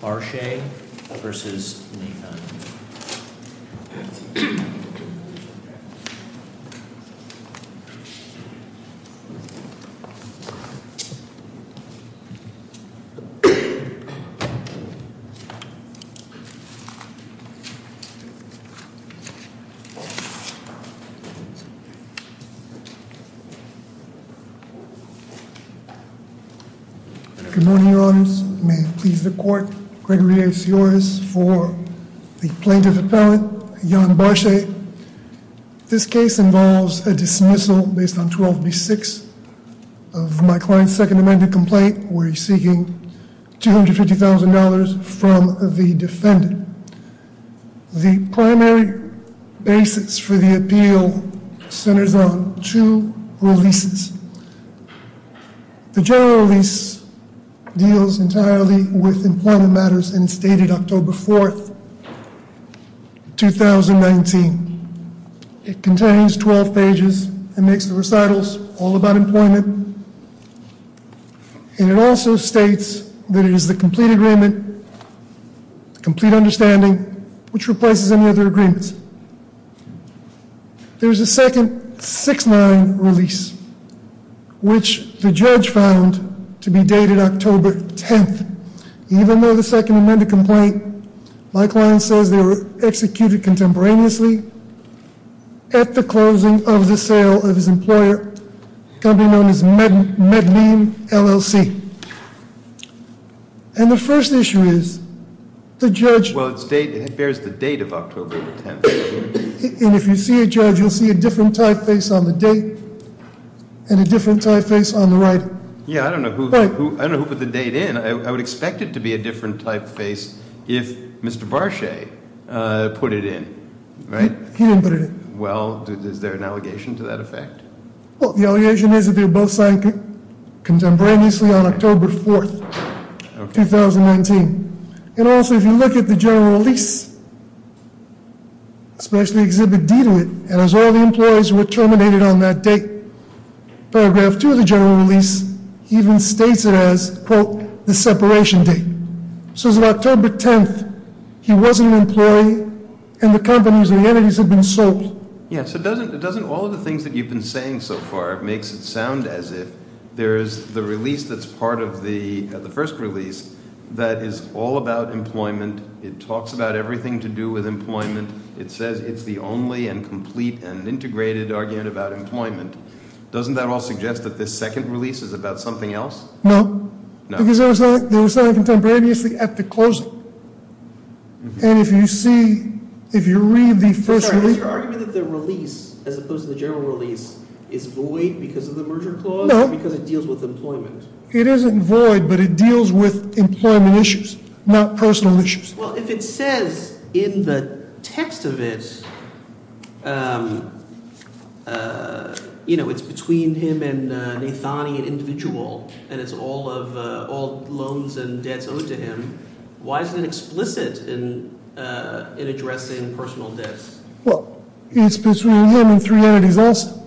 Barshay v. Naithani Good morning, Your Honors. May it please the Court, Gregory A. Sioris for the Plaintiff-Appellant, Jan Barshay. This case involves a dismissal based on 12B6 of my client's Second Amendment complaint where he's seeking $250,000 from the defendant. The primary basis for the appeal centers on two releases. The general release deals entirely with employment matters and it's dated October 4th, 2019. It contains 12 pages and makes the recitals all about employment and it also states that it is the complete agreement, complete understanding, which replaces any other agreements. There's a second 6-9 release, which the judge found to be dated October 10th, even though the Second Amendment complaint, my client says they were executed contemporaneously at the closing of the sale of his employer, a company known as Medline, LLC. And the first issue is the judge... Well, it bears the date of October 10th. And if you see a judge, you'll see a different typeface on the date and a different typeface on the right. Yeah, I don't know who put the date in. I would expect it to be a different typeface if Mr. Barshay put it in, right? He didn't put it in. Well, is there an allegation to that effect? Well, the allegation is that they were both signed contemporaneously on October 4th, 2019. And also, if you look at the general release, especially Exhibit D to it, and as all the employees were terminated on that date, paragraph 2 of the general release even states it as, quote, the separation date. So as of October 10th, he wasn't an employee and the companies and the entities had been sold. Yeah, so doesn't all of the things that you've been saying so far makes it sound as if there is the release that's part of the first release that is all about employment, it talks about everything to do with employment, it says it's the only and complete and integrated argument about employment. Doesn't that all suggest that this second release is about something else? No. No. Because they were signed contemporaneously at the closing. And if you see, if you read the first release... Is your argument that the release, as opposed to the general release, is void because of the merger clause? No. Because it deals with employment. It isn't void, but it deals with employment issues, not personal issues. Well, if it says in the text of it, you know, it's between him and Nathani, an individual, and it's all loans and debts owed to him, why is it explicit in addressing personal debts? Well, it's between him and three entities also,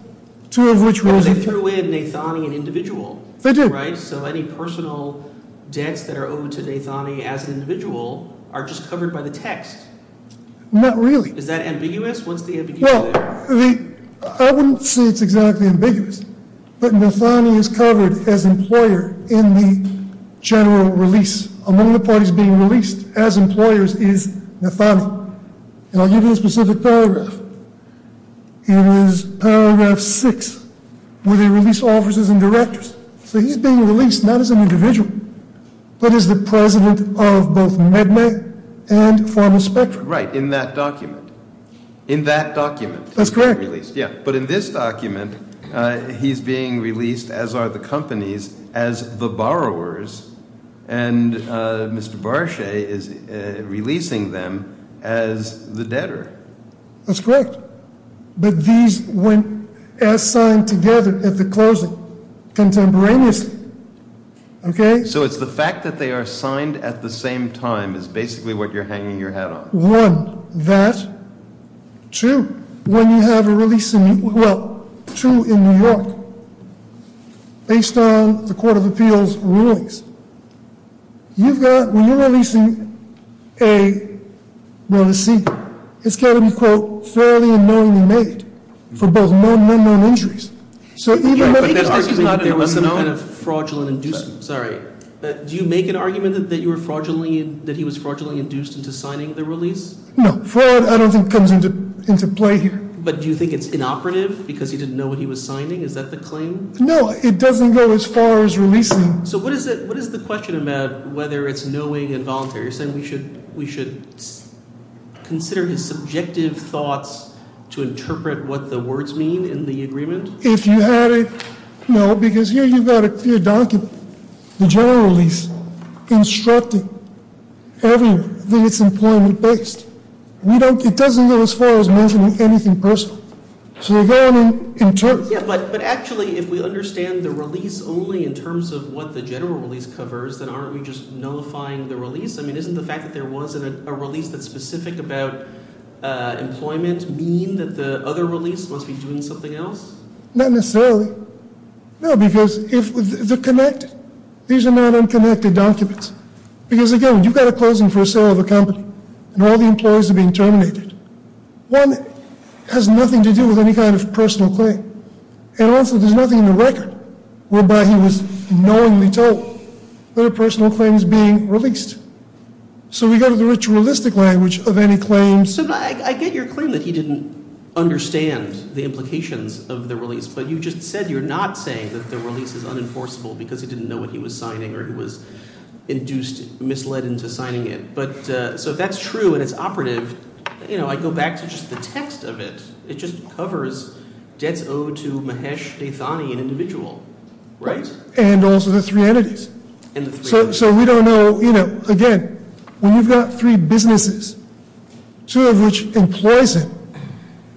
two of which were... But they threw in Nathani, an individual. They did. Right? So any personal debts that are owed to Nathani as an individual are just covered by the text. Not really. Is that ambiguous? What's the ambiguity there? Well, I wouldn't say it's exactly ambiguous, but Nathani is covered as employer in the general release. Among the parties being released as employers is Nathani. And I'll give you one specific paragraph. It was paragraph six where they release officers and directors. So he's being released not as an individual, but as the president of both MedMed and Formal Spectrum. Right. In that document. In that document he's being released. That's correct. Yeah. But in this document, he's being released, as are the companies, as the borrowers, and Mr. Barchet is releasing them as the debtor. That's correct. But these went as signed together at the closing, contemporaneously. Okay. So it's the fact that they are signed at the same time is basically what you're hanging your hat on. One. That. Two. When you have a release in... Well, two in New York, based on the Court of Appeals rulings, you've got... When you're releasing a... Well, a seeker, it's got to be, quote, fairly and knowingly made for both known and unknown entries. Right. But that's not an... So even if... That's not an unknown.... fraudulent inducement. Sorry. Do you make an argument that you were fraudulently... that he was fraudulently induced into signing the release? No. Fraud, I don't think, comes into play here. But do you think it's inoperative because he didn't know what he was signing? Is that the claim? No. It doesn't go as far as releasing. So what is the question about whether it's knowing and voluntary? You're saying we should consider his subjective thoughts to interpret what the words mean in the agreement? If you had it... No, because here you've got a clear document. The general release instructing everyone that it's employment-based. It doesn't go as far as mentioning anything personal. So they're going in terms... But actually, if we understand the release only in terms of what the general release covers, then aren't we just nullifying the release? I mean, isn't the fact that there was a release that's specific about employment mean that the other release must be doing something else? Not necessarily. No, because if the connect... These are not unconnected documents. Because again, when you've got a closing for a sale of a company and all the employees are being And also there's nothing in the record whereby he was knowingly told that a personal claim is being released. So we go to the ritualistic language of any claim... So I get your claim that he didn't understand the implications of the release, but you just said you're not saying that the release is unenforceable because he didn't know what he was signing or he was induced, misled into signing it. So if that's true and it's operative, I go back to just the text of it. It just covers debts owed to Mahesh Deithani, an individual. Right? And also the three entities. And the three entities. So we don't know... Again, when you've got three businesses, two of which employs him,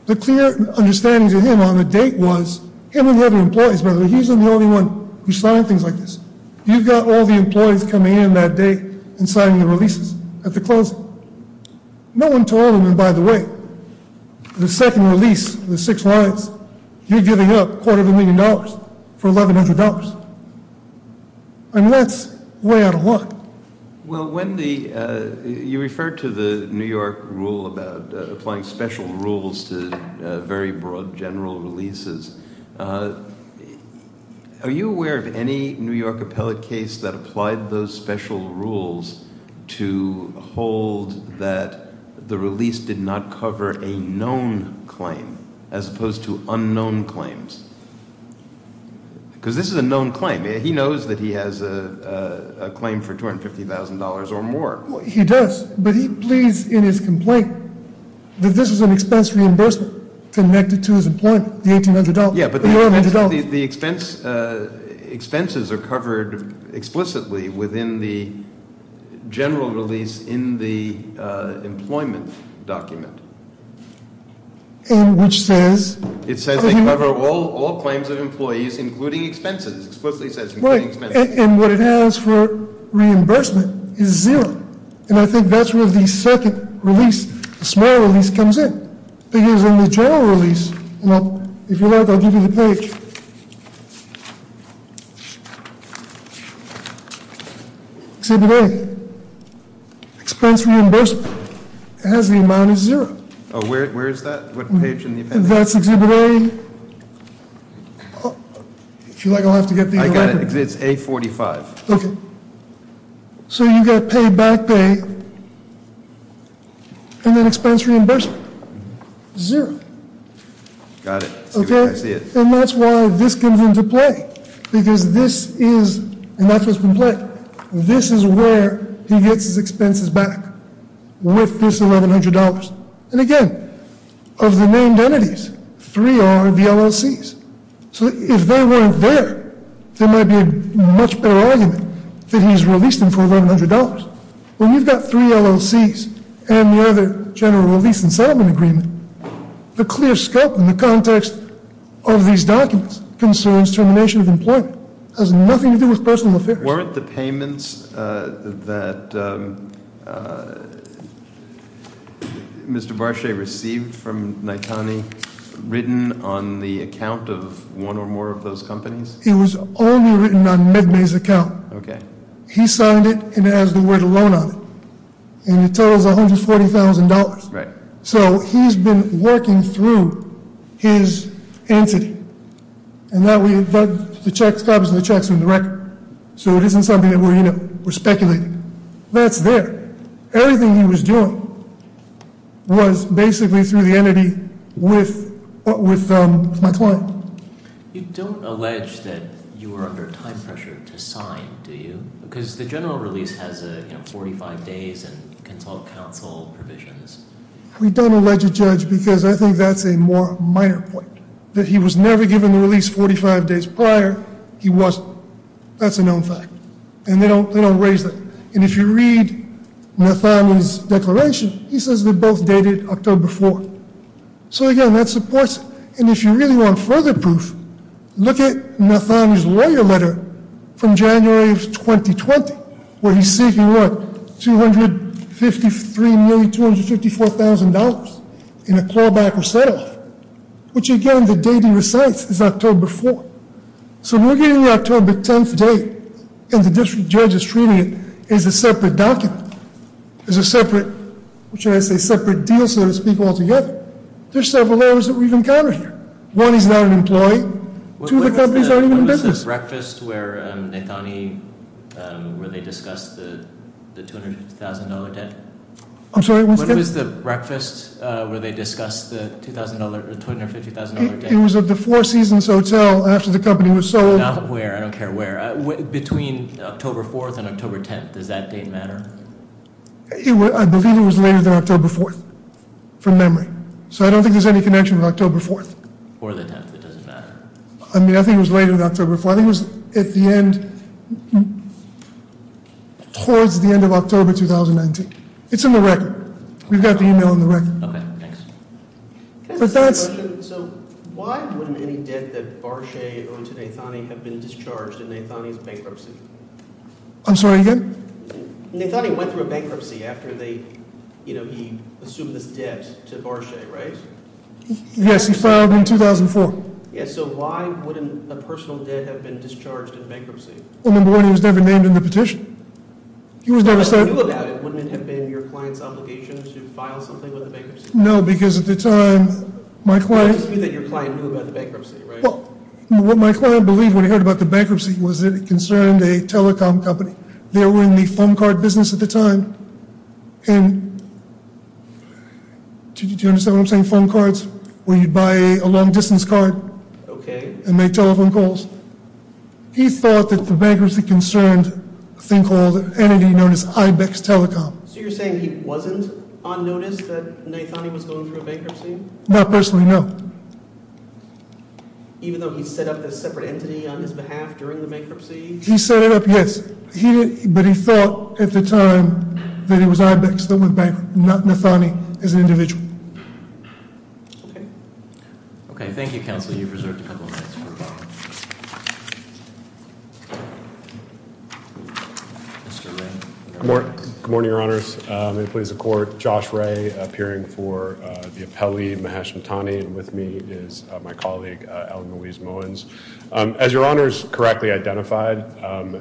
the clear understanding to him on the date was... Him and the other employees, by the way. He's the only one who signed things like this. You've got all the employees coming in that day and signing the releases at the closing. No one told him, and by the way, the second release, the six lines, you're giving up a quarter of a million dollars for $1,100. I mean, that's way out of luck. Well, when the... You referred to the New York rule about applying special rules to very broad general releases. Are you aware of any New York appellate case that applied those special rules to hold that the release did not cover a known claim as opposed to unknown claims? Because this is a known claim. He knows that he has a claim for $250,000 or more. He does. But he pleads in his complaint that this was an expense reimbursement connected to his employment, the $1,800. Yeah, but the expenses are covered explicitly within the general release in the employment document. And which says... It says they cover all claims of employees, including expenses. It explicitly says including expenses. Right. And what it has for reimbursement is zero. And I think that's where the second release, the small release, comes in. Because in the general release... If you like, I'll give you the page. Exhibit A, expense reimbursement. It has the amount of zero. Oh, where is that? What page in the appendix? That's Exhibit A... If you like, I'll have to get the... I got it. It's A45. Okay. So you've got payback pay and then expense reimbursement. Zero. Got it. I see it. And that's why this comes into play. Because this is... And that's what's been played. This is where he gets his expenses back with this $1,100. And again, of the named entities, three are the LLCs. So if they weren't there, there might be a much better argument that he's released them for $1,100. When you've got three LLCs and the other general release and settlement agreement, the clear scope and the context of these documents concerns termination of employment. It has nothing to do with personal affairs. Weren't the payments that Mr. Barchet received from Naitani written on the account of one or more of those companies? It was only written on MedMay's account. Okay. He signed it and it has the word alone on it. And it totals $140,000. Right. So he's been working through his entity. And that we... The checks, copies of the checks are in the record. So it isn't something that we're, you know, we're speculating. That's there. Everything he was doing was basically through the entity with my client. You don't allege that you were under time pressure to sign, do you? Because the general release has, you know, 45 days and consult counsel provisions. We don't allege a judge because I think that's a more minor point. That he was never given the release 45 days prior, he wasn't. That's a known fact. And they don't raise that. And if you read Naitani's declaration, he says they both dated October 4th. So again, that supports it. And if you really want further proof, look at Naitani's lawyer letter from January of 2020, where he's seeking, what, $253,254,000 in a clawback or set-off. Which, again, the dating recites it's October 4th. So we're getting the October 10th date, and the district judge is treating it as a separate document. As a separate, what should I say, separate deal, so to speak, altogether. There's several layers that we've encountered here. One, he's not an employee. Two, the companies aren't even in business. What was the breakfast where Naitani, where they discussed the $250,000 debt? I'm sorry, what's that? What was the breakfast where they discussed the $250,000 debt? It was at the Four Seasons Hotel after the company was sold. Not where, I don't care where. Between October 4th and October 10th, does that date matter? I believe it was later than October 4th, from memory. So I don't think there's any connection with October 4th. Or the 10th, it doesn't matter. I mean, I think it was later than October 4th. I think it was at the end, towards the end of October 2019. It's in the record. We've got the email in the record. Okay, thanks. Can I ask a question? So why wouldn't any debt that Barchet owed to Naitani have been discharged in Naitani's bankruptcy? I'm sorry, again? Naitani went through a bankruptcy after he assumed this debt to Barchet, right? Yes, he filed in 2004. Yes, so why wouldn't a personal debt have been discharged in bankruptcy? Well, number one, he was never named in the petition. He was never said- But if he knew about it, wouldn't it have been your client's obligation to file something with the bankruptcy? No, because at the time, my client- You just knew that your client knew about the bankruptcy, right? Well, what my client believed when he heard about the bankruptcy was that it concerned a telecom company. They were in the phone card business at the time. And do you understand what I'm saying? Phone cards, where you'd buy a long-distance card and make telephone calls. He thought that the bankruptcy concerned a thing called an entity known as Ibex Telecom. So you're saying he wasn't on notice that Naitani was going through a bankruptcy? Not personally, no. Even though he set up this separate entity on his behalf during the bankruptcy? He set it up, yes. But he felt at the time that it was Ibex that went bankrupt, not Naitani as an individual. Okay. Okay, thank you, counsel. You've reserved a couple of minutes for questions. Mr. Ray. Good morning, Your Honors. May it please the Court. Josh Ray, appearing for the appellee, Mahesh Naitani. And with me is my colleague, Allen Louise Mowens. As Your Honors correctly identified,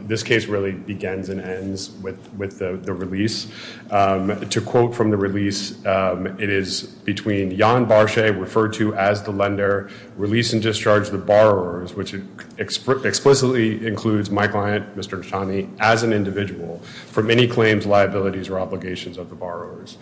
this case really begins and ends with the release. To quote from the release, it is between Yan Barshay, referred to as the lender, release and discharge the borrowers, which explicitly includes my client, Mr. Naitani, as an individual from any claims, liabilities, or obligations of the borrowers.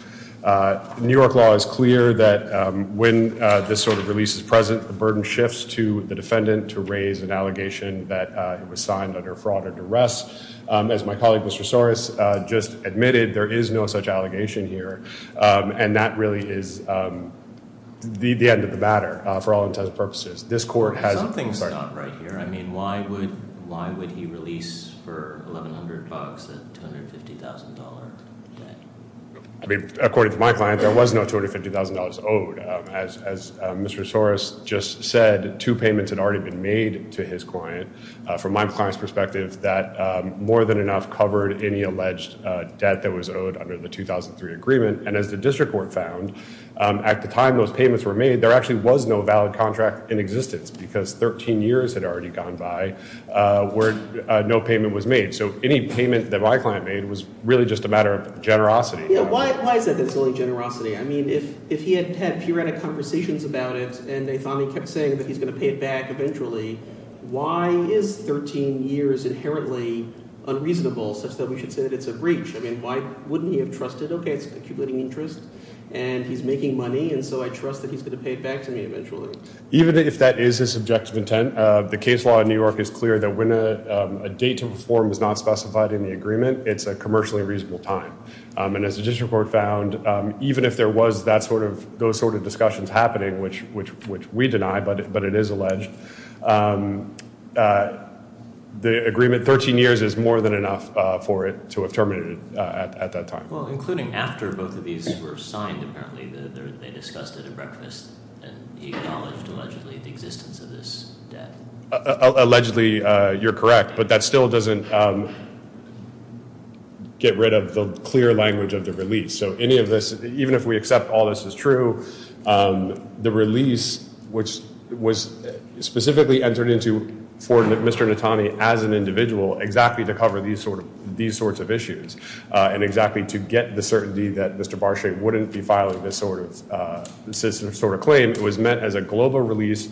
New York law is clear that when this sort of release is present, the burden shifts to the defendant to raise an allegation that it was signed under a fraud or duress. As my colleague, Mr. Soros, just admitted, there is no such allegation here. And that really is the end of the matter, for all intents and purposes. This court has- Something's not right here. I mean, why would he release for $1,100 a $250,000 debt? According to my client, there was no $250,000 owed. As Mr. Soros just said, two payments had already been made to his client. From my client's perspective, that more than enough covered any alleged debt that was owed under the 2003 agreement. And as the district court found, at the time those payments were made, there actually was no valid contract in existence because 13 years had already gone by where no payment was made. So any payment that my client made was really just a matter of generosity. Yeah, why is it that it's only generosity? I mean, if he had had periodic conversations about it and they thought he kept saying that he's going to pay it back eventually, why is 13 years inherently unreasonable such that we should say that it's a breach? I mean, why wouldn't he have trusted, okay, it's accumulating interest and he's making money, and so I trust that he's going to pay it back to me eventually. Even if that is his subjective intent, the case law in New York is clear that when a date to perform is not specified in the agreement, it's a commercially reasonable time. And as the district court found, even if there was those sort of discussions happening, which we deny but it is alleged, the agreement 13 years is more than enough for it to have terminated at that time. Well, including after both of these were signed, apparently they discussed it at breakfast, and he acknowledged allegedly the existence of this debt. Allegedly, you're correct, but that still doesn't get rid of the clear language of the release. So any of this, even if we accept all this is true, the release, which was specifically entered into for Mr. Natani as an individual exactly to cover these sorts of issues and exactly to get the certainty that Mr. Barchet wouldn't be filing this sort of claim, it was meant as a global release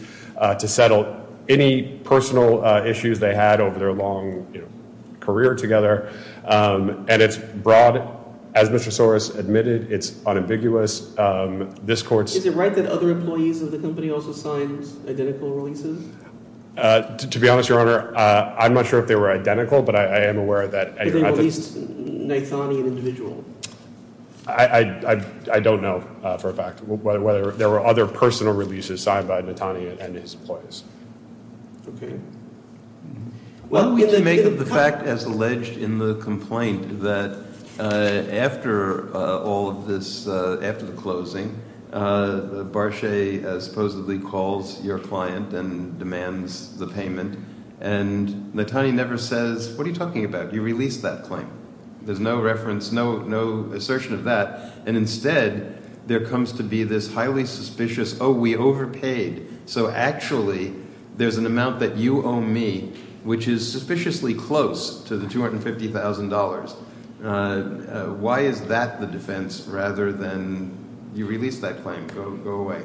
to settle any personal issues they had over their long career together. And it's broad, as Mr. Soros admitted, it's unambiguous. Is it right that other employees of the company also signed identical releases? To be honest, Your Honor, I'm not sure if they were identical, but I am aware that they released Natani an individual. I don't know for a fact whether there were other personal releases signed by Natani and his employees. Okay. Well, we can make up the fact as alleged in the complaint that after all of this, after the closing, Barchet supposedly calls your client and demands the payment, and Natani never says, what are you talking about? You released that claim. There's no reference, no assertion of that. And instead, there comes to be this highly suspicious, oh, we overpaid, so actually there's an amount that you owe me, which is suspiciously close to the $250,000. Why is that the defense rather than you released that claim? Go away.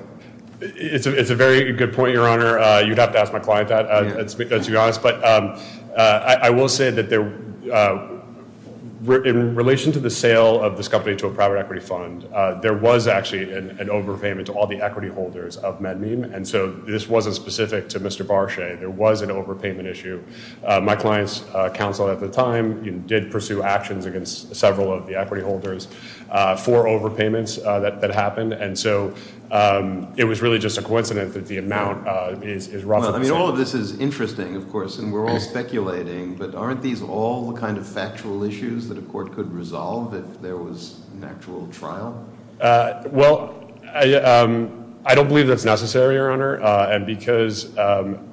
It's a very good point, Your Honor. You'd have to ask my client that, to be honest. But I will say that in relation to the sale of this company to a private equity fund, there was actually an overpayment to all the equity holders of MedMeme, and so this wasn't specific to Mr. Barchet. There was an overpayment issue. My client's counsel at the time did pursue actions against several of the equity holders for overpayments that happened, and so it was really just a coincidence that the amount is roughly the same. Well, I mean, all of this is interesting, of course, and we're all speculating, but aren't these all the kind of factual issues that a court could resolve if there was an actual trial? Well, I don't believe that's necessary, Your Honor, and because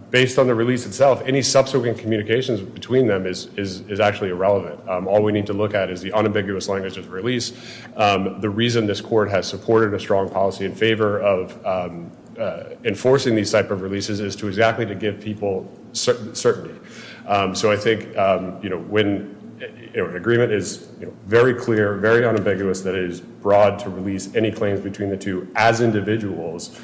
based on the release itself, any subsequent communications between them is actually irrelevant. All we need to look at is the unambiguous language of the release. The reason this court has supported a strong policy in favor of enforcing these type of releases is exactly to give people certainty. So I think when an agreement is very clear, very unambiguous, that it is broad to release any claims between the two as individuals,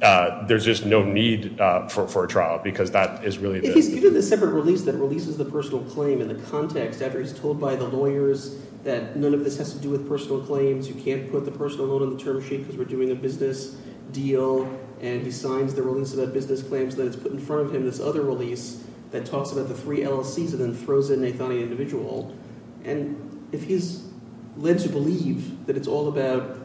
there's just no need for a trial because that is really the case. You did the separate release that releases the personal claim in the context after he's told by the lawyers that none of this has to do with personal claims, you can't put the personal loan on the term sheet because we're doing a business deal, and he signs the release about business claims, then it's put in front of him this other release that talks about the three LLCs and then throws in Nathani individual, and if he's led to believe that it's all about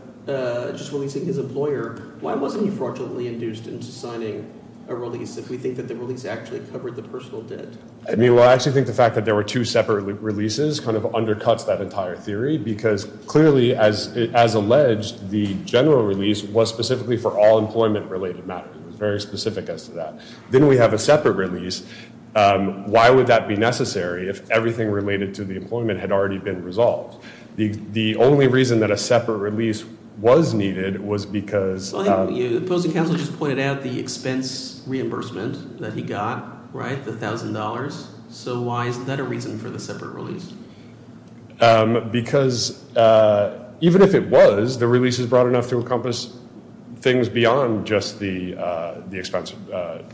just releasing his employer, why wasn't he fraudulently induced into signing a release if we think that the release actually covered the personal debt? I actually think the fact that there were two separate releases kind of undercuts that entire theory because clearly, as alleged, the general release was specifically for all employment-related matters. It was very specific as to that. Then we have a separate release. Why would that be necessary if everything related to the employment had already been resolved? The only reason that a separate release was needed was because The opposing counsel just pointed out the expense reimbursement that he got, the $1,000. So why is that a reason for the separate release? Because even if it was, the release is broad enough to encompass things beyond just the expense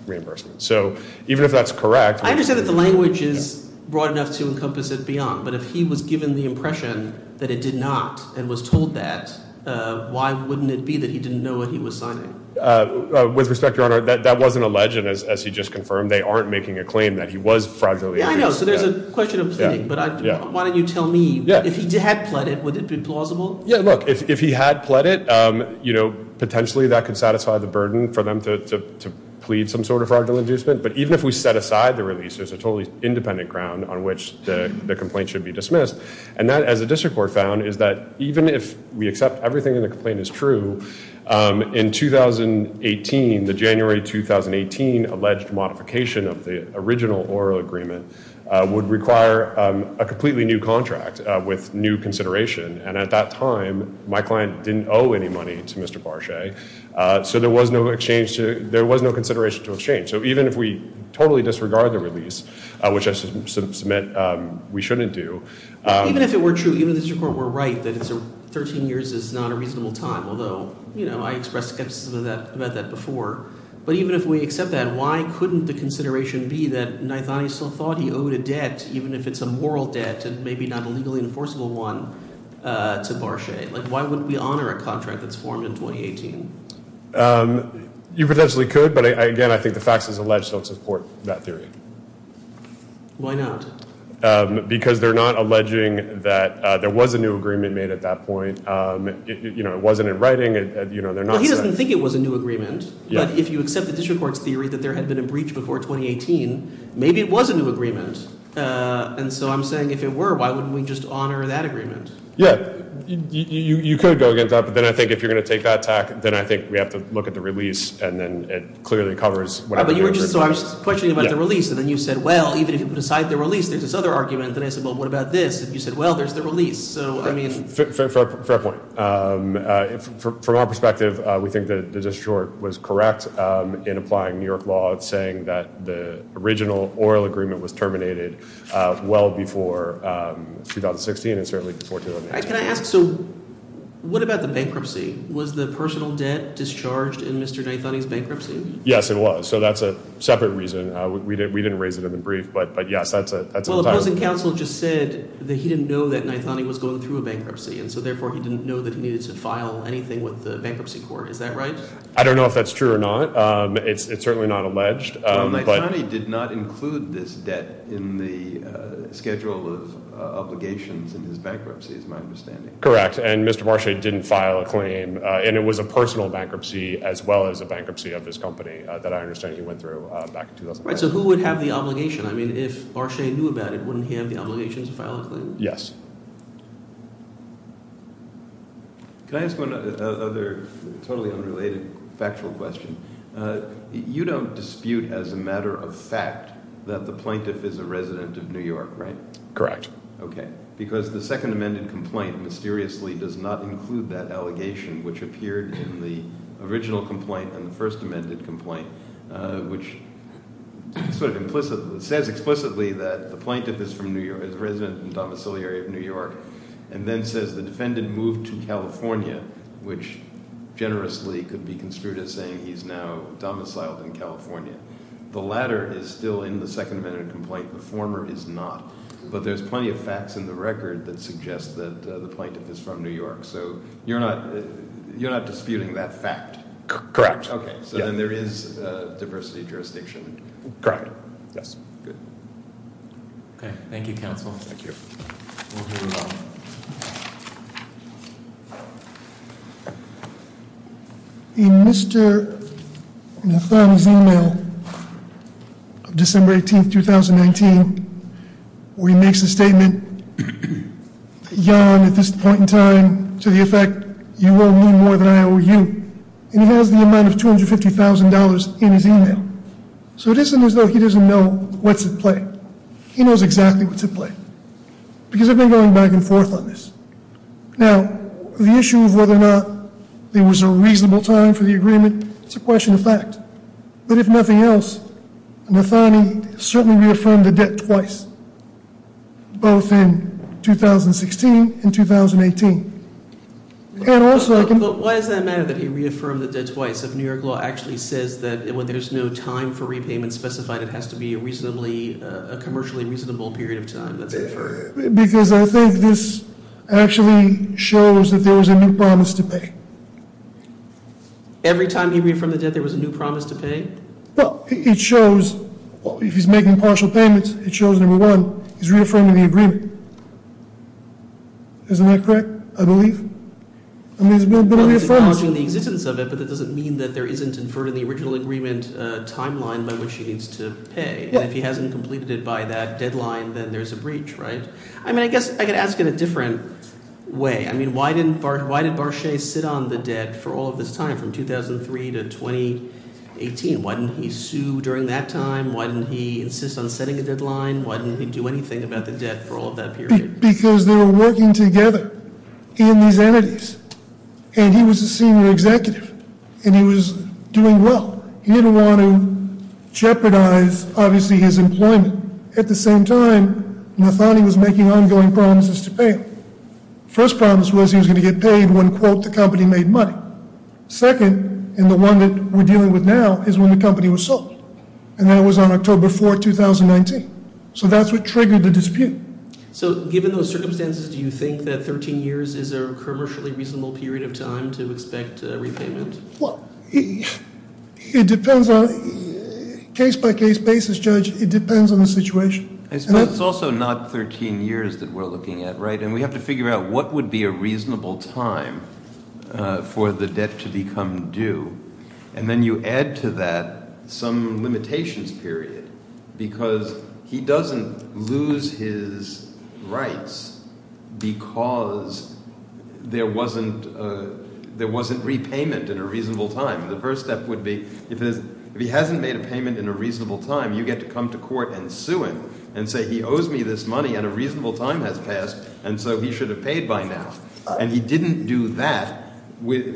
reimbursement. So even if that's correct, I understand that the language is broad enough to encompass it beyond, but if he was given the impression that it did not and was told that, why wouldn't it be that he didn't know what he was signing? With respect, Your Honor, that wasn't alleged, as he just confirmed. They aren't making a claim that he was fraudulently induced. Yeah, I know. So there's a question of pleading. But why don't you tell me, if he had pled it, would it be plausible? Yeah, look, if he had pled it, potentially that could satisfy the burden for them to plead some sort of fraudulent inducement. But even if we set aside the release, there's a totally independent ground on which the complaint should be dismissed. And that, as the district court found, is that even if we accept everything in the complaint is true, in 2018, the January 2018 alleged modification of the original oral agreement would require a completely new contract with new consideration. And at that time, my client didn't owe any money to Mr. Barchet. So there was no consideration to exchange. So even if we totally disregard the release, which I submit we shouldn't do. Even if it were true, even if the district court were right that 13 years is not a reasonable time, although I expressed skepticism about that before, but even if we accept that, why couldn't the consideration be that Naithani still thought he owed a debt, even if it's a moral debt and maybe not a legally enforceable one, to Barchet? Why wouldn't we honor a contract that's formed in 2018? You potentially could, but again, I think the facts as alleged don't support that theory. Why not? Because they're not alleging that there was a new agreement made at that point. It wasn't in writing. He doesn't think it was a new agreement, but if you accept the district court's theory that there had been a breach before 2018, maybe it was a new agreement. And so I'm saying if it were, why wouldn't we just honor that agreement? Yeah, you could go against that, but then I think if you're going to take that attack, then I think we have to look at the release, and then it clearly covers what happened in 2013. So I was questioning about the release, and then you said, well, even if you put aside the release, there's this other argument, and then I said, well, what about this? And you said, well, there's the release. Fair point. From our perspective, we think that the district court was correct in applying New York law, saying that the original oral agreement was terminated well before 2016 and certainly before 2018. Can I ask, so what about the bankruptcy? Was the personal debt discharged in Mr. Naithani's bankruptcy? Yes, it was. So that's a separate reason. We didn't raise it in the brief, but, yes, that's a title. Well, opposing counsel just said that he didn't know that Naithani was going through a bankruptcy, and so therefore he didn't know that he needed to file anything with the bankruptcy court. Is that right? I don't know if that's true or not. It's certainly not alleged. Naithani did not include this debt in the schedule of obligations in his bankruptcy, is my understanding. Correct, and Mr. Barchet didn't file a claim, and it was a personal bankruptcy as well as a bankruptcy of his company that I understand he went through back in 2009. Right, so who would have the obligation? I mean, if Barchet knew about it, wouldn't he have the obligation to file a claim? Yes. Can I ask one other totally unrelated factual question? You don't dispute as a matter of fact that the plaintiff is a resident of New York, right? Correct. Okay, because the second amended complaint mysteriously does not include that allegation, which appeared in the original complaint and the first amended complaint, which says explicitly that the plaintiff is from New York, is a resident and domiciliary of New York, and then says the defendant moved to California, which generously could be construed as saying he's now domiciled in California. The latter is still in the second amended complaint. The former is not, but there's plenty of facts in the record that suggest that the plaintiff is from New York, so you're not disputing that fact? Correct. Okay, so then there is a diversity jurisdiction. Correct. Yes. Okay, thank you, Counsel. Thank you. In Mr. Nathan's email, December 18th, 2019, where he makes a statement at this point in time to the effect, you owe me more than I owe you, and he has the amount of $250,000 in his email. So it isn't as though he doesn't know what's at play. He knows exactly what's at play, because I've been going back and forth on this. Now, the issue of whether or not there was a reasonable time for the agreement, it's a question of fact. But if nothing else, Nathani certainly reaffirmed the debt twice, both in 2016 and 2018. And also I can- Why does that matter that he reaffirmed the debt twice if New York law actually says that when there's no time for repayment specified, it has to be a commercially reasonable period of time? Because I think this actually shows that there was a new promise to pay. Every time he reaffirmed the debt, there was a new promise to pay? Well, it shows if he's making partial payments, it shows, number one, he's reaffirming the agreement. Isn't that correct, I believe? I mean, he's been reaffirming- Well, he's acknowledging the existence of it, but that doesn't mean that there isn't inferred in the original agreement timeline by which he needs to pay. And if he hasn't completed it by that deadline, then there's a breach, right? I mean, I guess I could ask in a different way. I mean, why did Barchet sit on the debt for all of this time, from 2003 to 2018? Why didn't he sue during that time? Why didn't he insist on setting a deadline? Why didn't he do anything about the debt for all of that period? Because they were working together in these entities, and he was a senior executive, and he was doing well. He didn't want to jeopardize, obviously, his employment. At the same time, Nathani was making ongoing promises to pay him. First promise was he was going to get paid when, quote, the company made money. Second, and the one that we're dealing with now, is when the company was sold. And that was on October 4, 2019. So that's what triggered the dispute. So given those circumstances, do you think that 13 years is a commercially reasonable period of time to expect a repayment? Well, it depends on case-by-case basis, Judge. It depends on the situation. I suppose it's also not 13 years that we're looking at, right? And we have to figure out what would be a reasonable time for the debt to become due. And then you add to that some limitations period because he doesn't lose his rights because there wasn't repayment in a reasonable time. The first step would be if he hasn't made a payment in a reasonable time, you get to come to court and sue him and say, he owes me this money and a reasonable time has passed, and so he should have paid by now. And he didn't do that.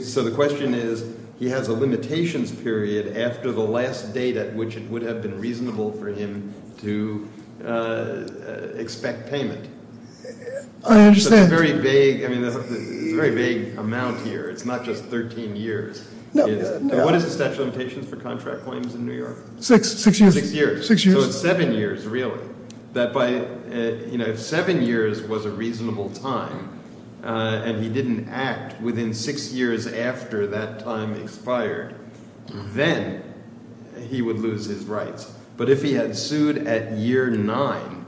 So the question is, he has a limitations period after the last date at which it would have been reasonable for him to expect payment. I understand. It's a very vague amount here. It's not just 13 years. What is the statute of limitations for contract claims in New York? Six years. Six years. So it's seven years, really. If seven years was a reasonable time and he didn't act within six years after that time expired, then he would lose his rights. But if he had sued at year nine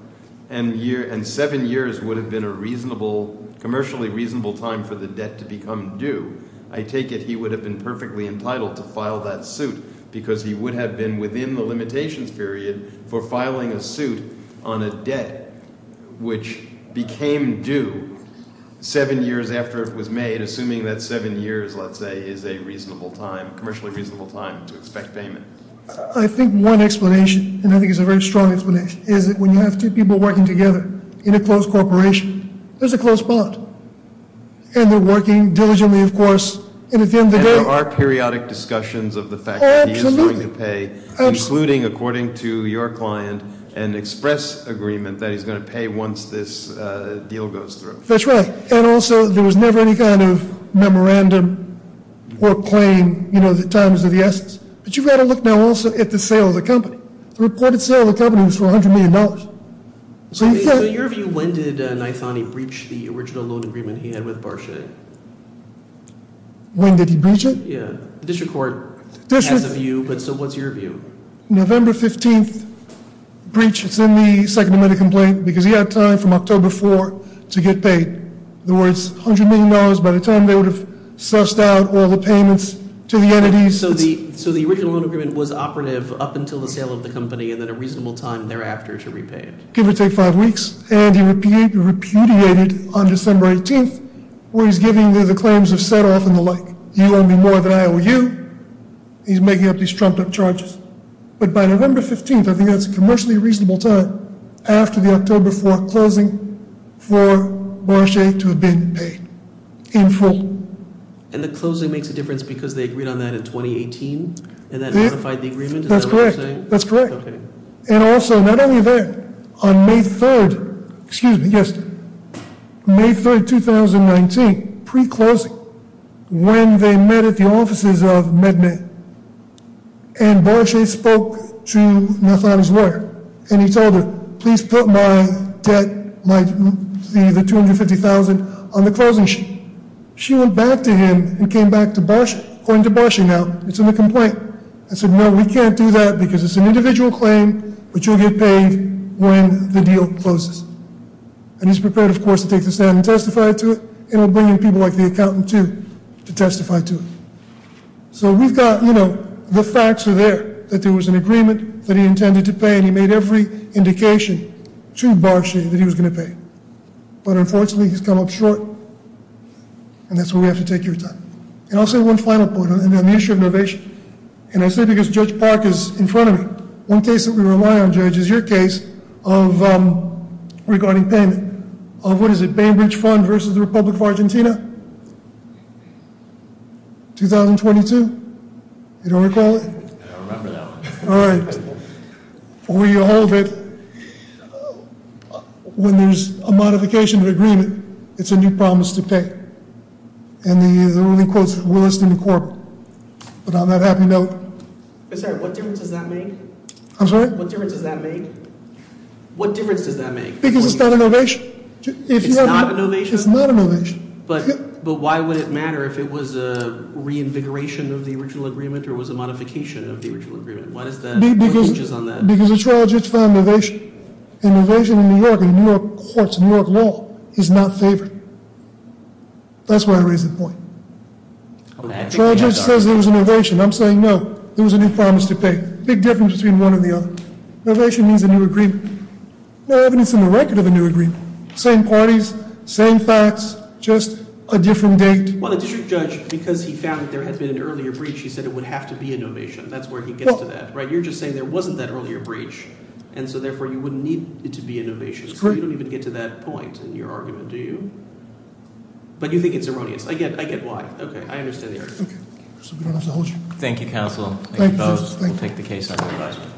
and seven years would have been a commercially reasonable time for the debt to become due, I take it he would have been perfectly entitled to file that suit because he would have been within the limitations period for filing a suit on a debt which became due seven years after it was made, assuming that seven years, let's say, is a commercially reasonable time to expect payment. I think one explanation, and I think it's a very strong explanation, is that when you have two people working together in a close corporation, there's a close bond. And they're working diligently, of course, and at the end of the day— And there are periodic discussions of the fact that he is going to pay, including, according to your client, an express agreement that he's going to pay once this deal goes through. That's right. And also, there was never any kind of memorandum or claim, you know, that times are the essence. But you've got to look now also at the sale of the company. The reported sale of the company was for $100 million. So your view, when did Naithani breach the original loan agreement he had with Barchet? When did he breach it? Yeah. The district court has a view, but so what's your view? November 15th breach. It's in the second amendment complaint because he had time from October 4th to get paid. In other words, $100 million by the time they would have sussed out all the payments to the entities. So the original loan agreement was operative up until the sale of the company and then a reasonable time thereafter to repay it. Give or take five weeks. And he repudiated on December 18th where he's giving the claims of set-off and the like. You owe me more than I owe you. He's making up these trumped-up charges. But by November 15th, I think that's a commercially reasonable time after the October 4th closing for Barchet to have been paid in full. And the closing makes a difference because they agreed on that in 2018 and that modified the agreement? That's correct. That's correct. And also, not only that, on May 3rd, excuse me, yes, May 3rd, 2019, pre-closing, when they met at the offices of MedMed and Barchet spoke to Naithani's lawyer. And he told her, please put my debt, the $250,000 on the closing sheet. She went back to him and came back to Barchet. According to Barchet now, it's in the complaint. And said, no, we can't do that because it's an individual claim, which will get paid when the deal closes. And he's prepared, of course, to take the stand and testify to it. And he'll bring in people like the accountant, too, to testify to it. So we've got, you know, the facts are there that there was an agreement that he intended to pay. And he made every indication to Barchet that he was going to pay. But unfortunately, he's come up short. And that's why we have to take your time. And also, one final point on the issue of innovation. And I say because Judge Park is in front of me. One case that we rely on, Judge, is your case of, regarding payment, of what is it? Bainbridge Fund versus the Republic of Argentina? 2022? I don't remember that one. All right. We hold it. When there's a modification of agreement, it's a new promise to pay. And the ruling quotes Williston and Corbin. But on that happy note- I'm sorry, what difference does that make? I'm sorry? What difference does that make? What difference does that make? Because it's not an ovation. It's not an ovation? It's not an ovation. But why would it matter if it was a reinvigoration of the original agreement or was a modification of the original agreement? Because the trial judge found an ovation. An ovation in New York, in New York courts, in New York law, is not favored. That's where I raise the point. The trial judge says there was an ovation. I'm saying no. There was a new promise to pay. Big difference between one and the other. An ovation means a new agreement. No evidence in the record of a new agreement. Same parties, same facts, just a different date. Well, the district judge, because he found that there had been an earlier breach, he said it would have to be an ovation. That's where he gets to that. You're just saying there wasn't that earlier breach, and so therefore you wouldn't need it to be an ovation. So you don't even get to that point in your argument, do you? But you think it's erroneous. I get why. Okay. I understand the argument. Thank you, counsel. Thank you both. We'll take the case under advisement.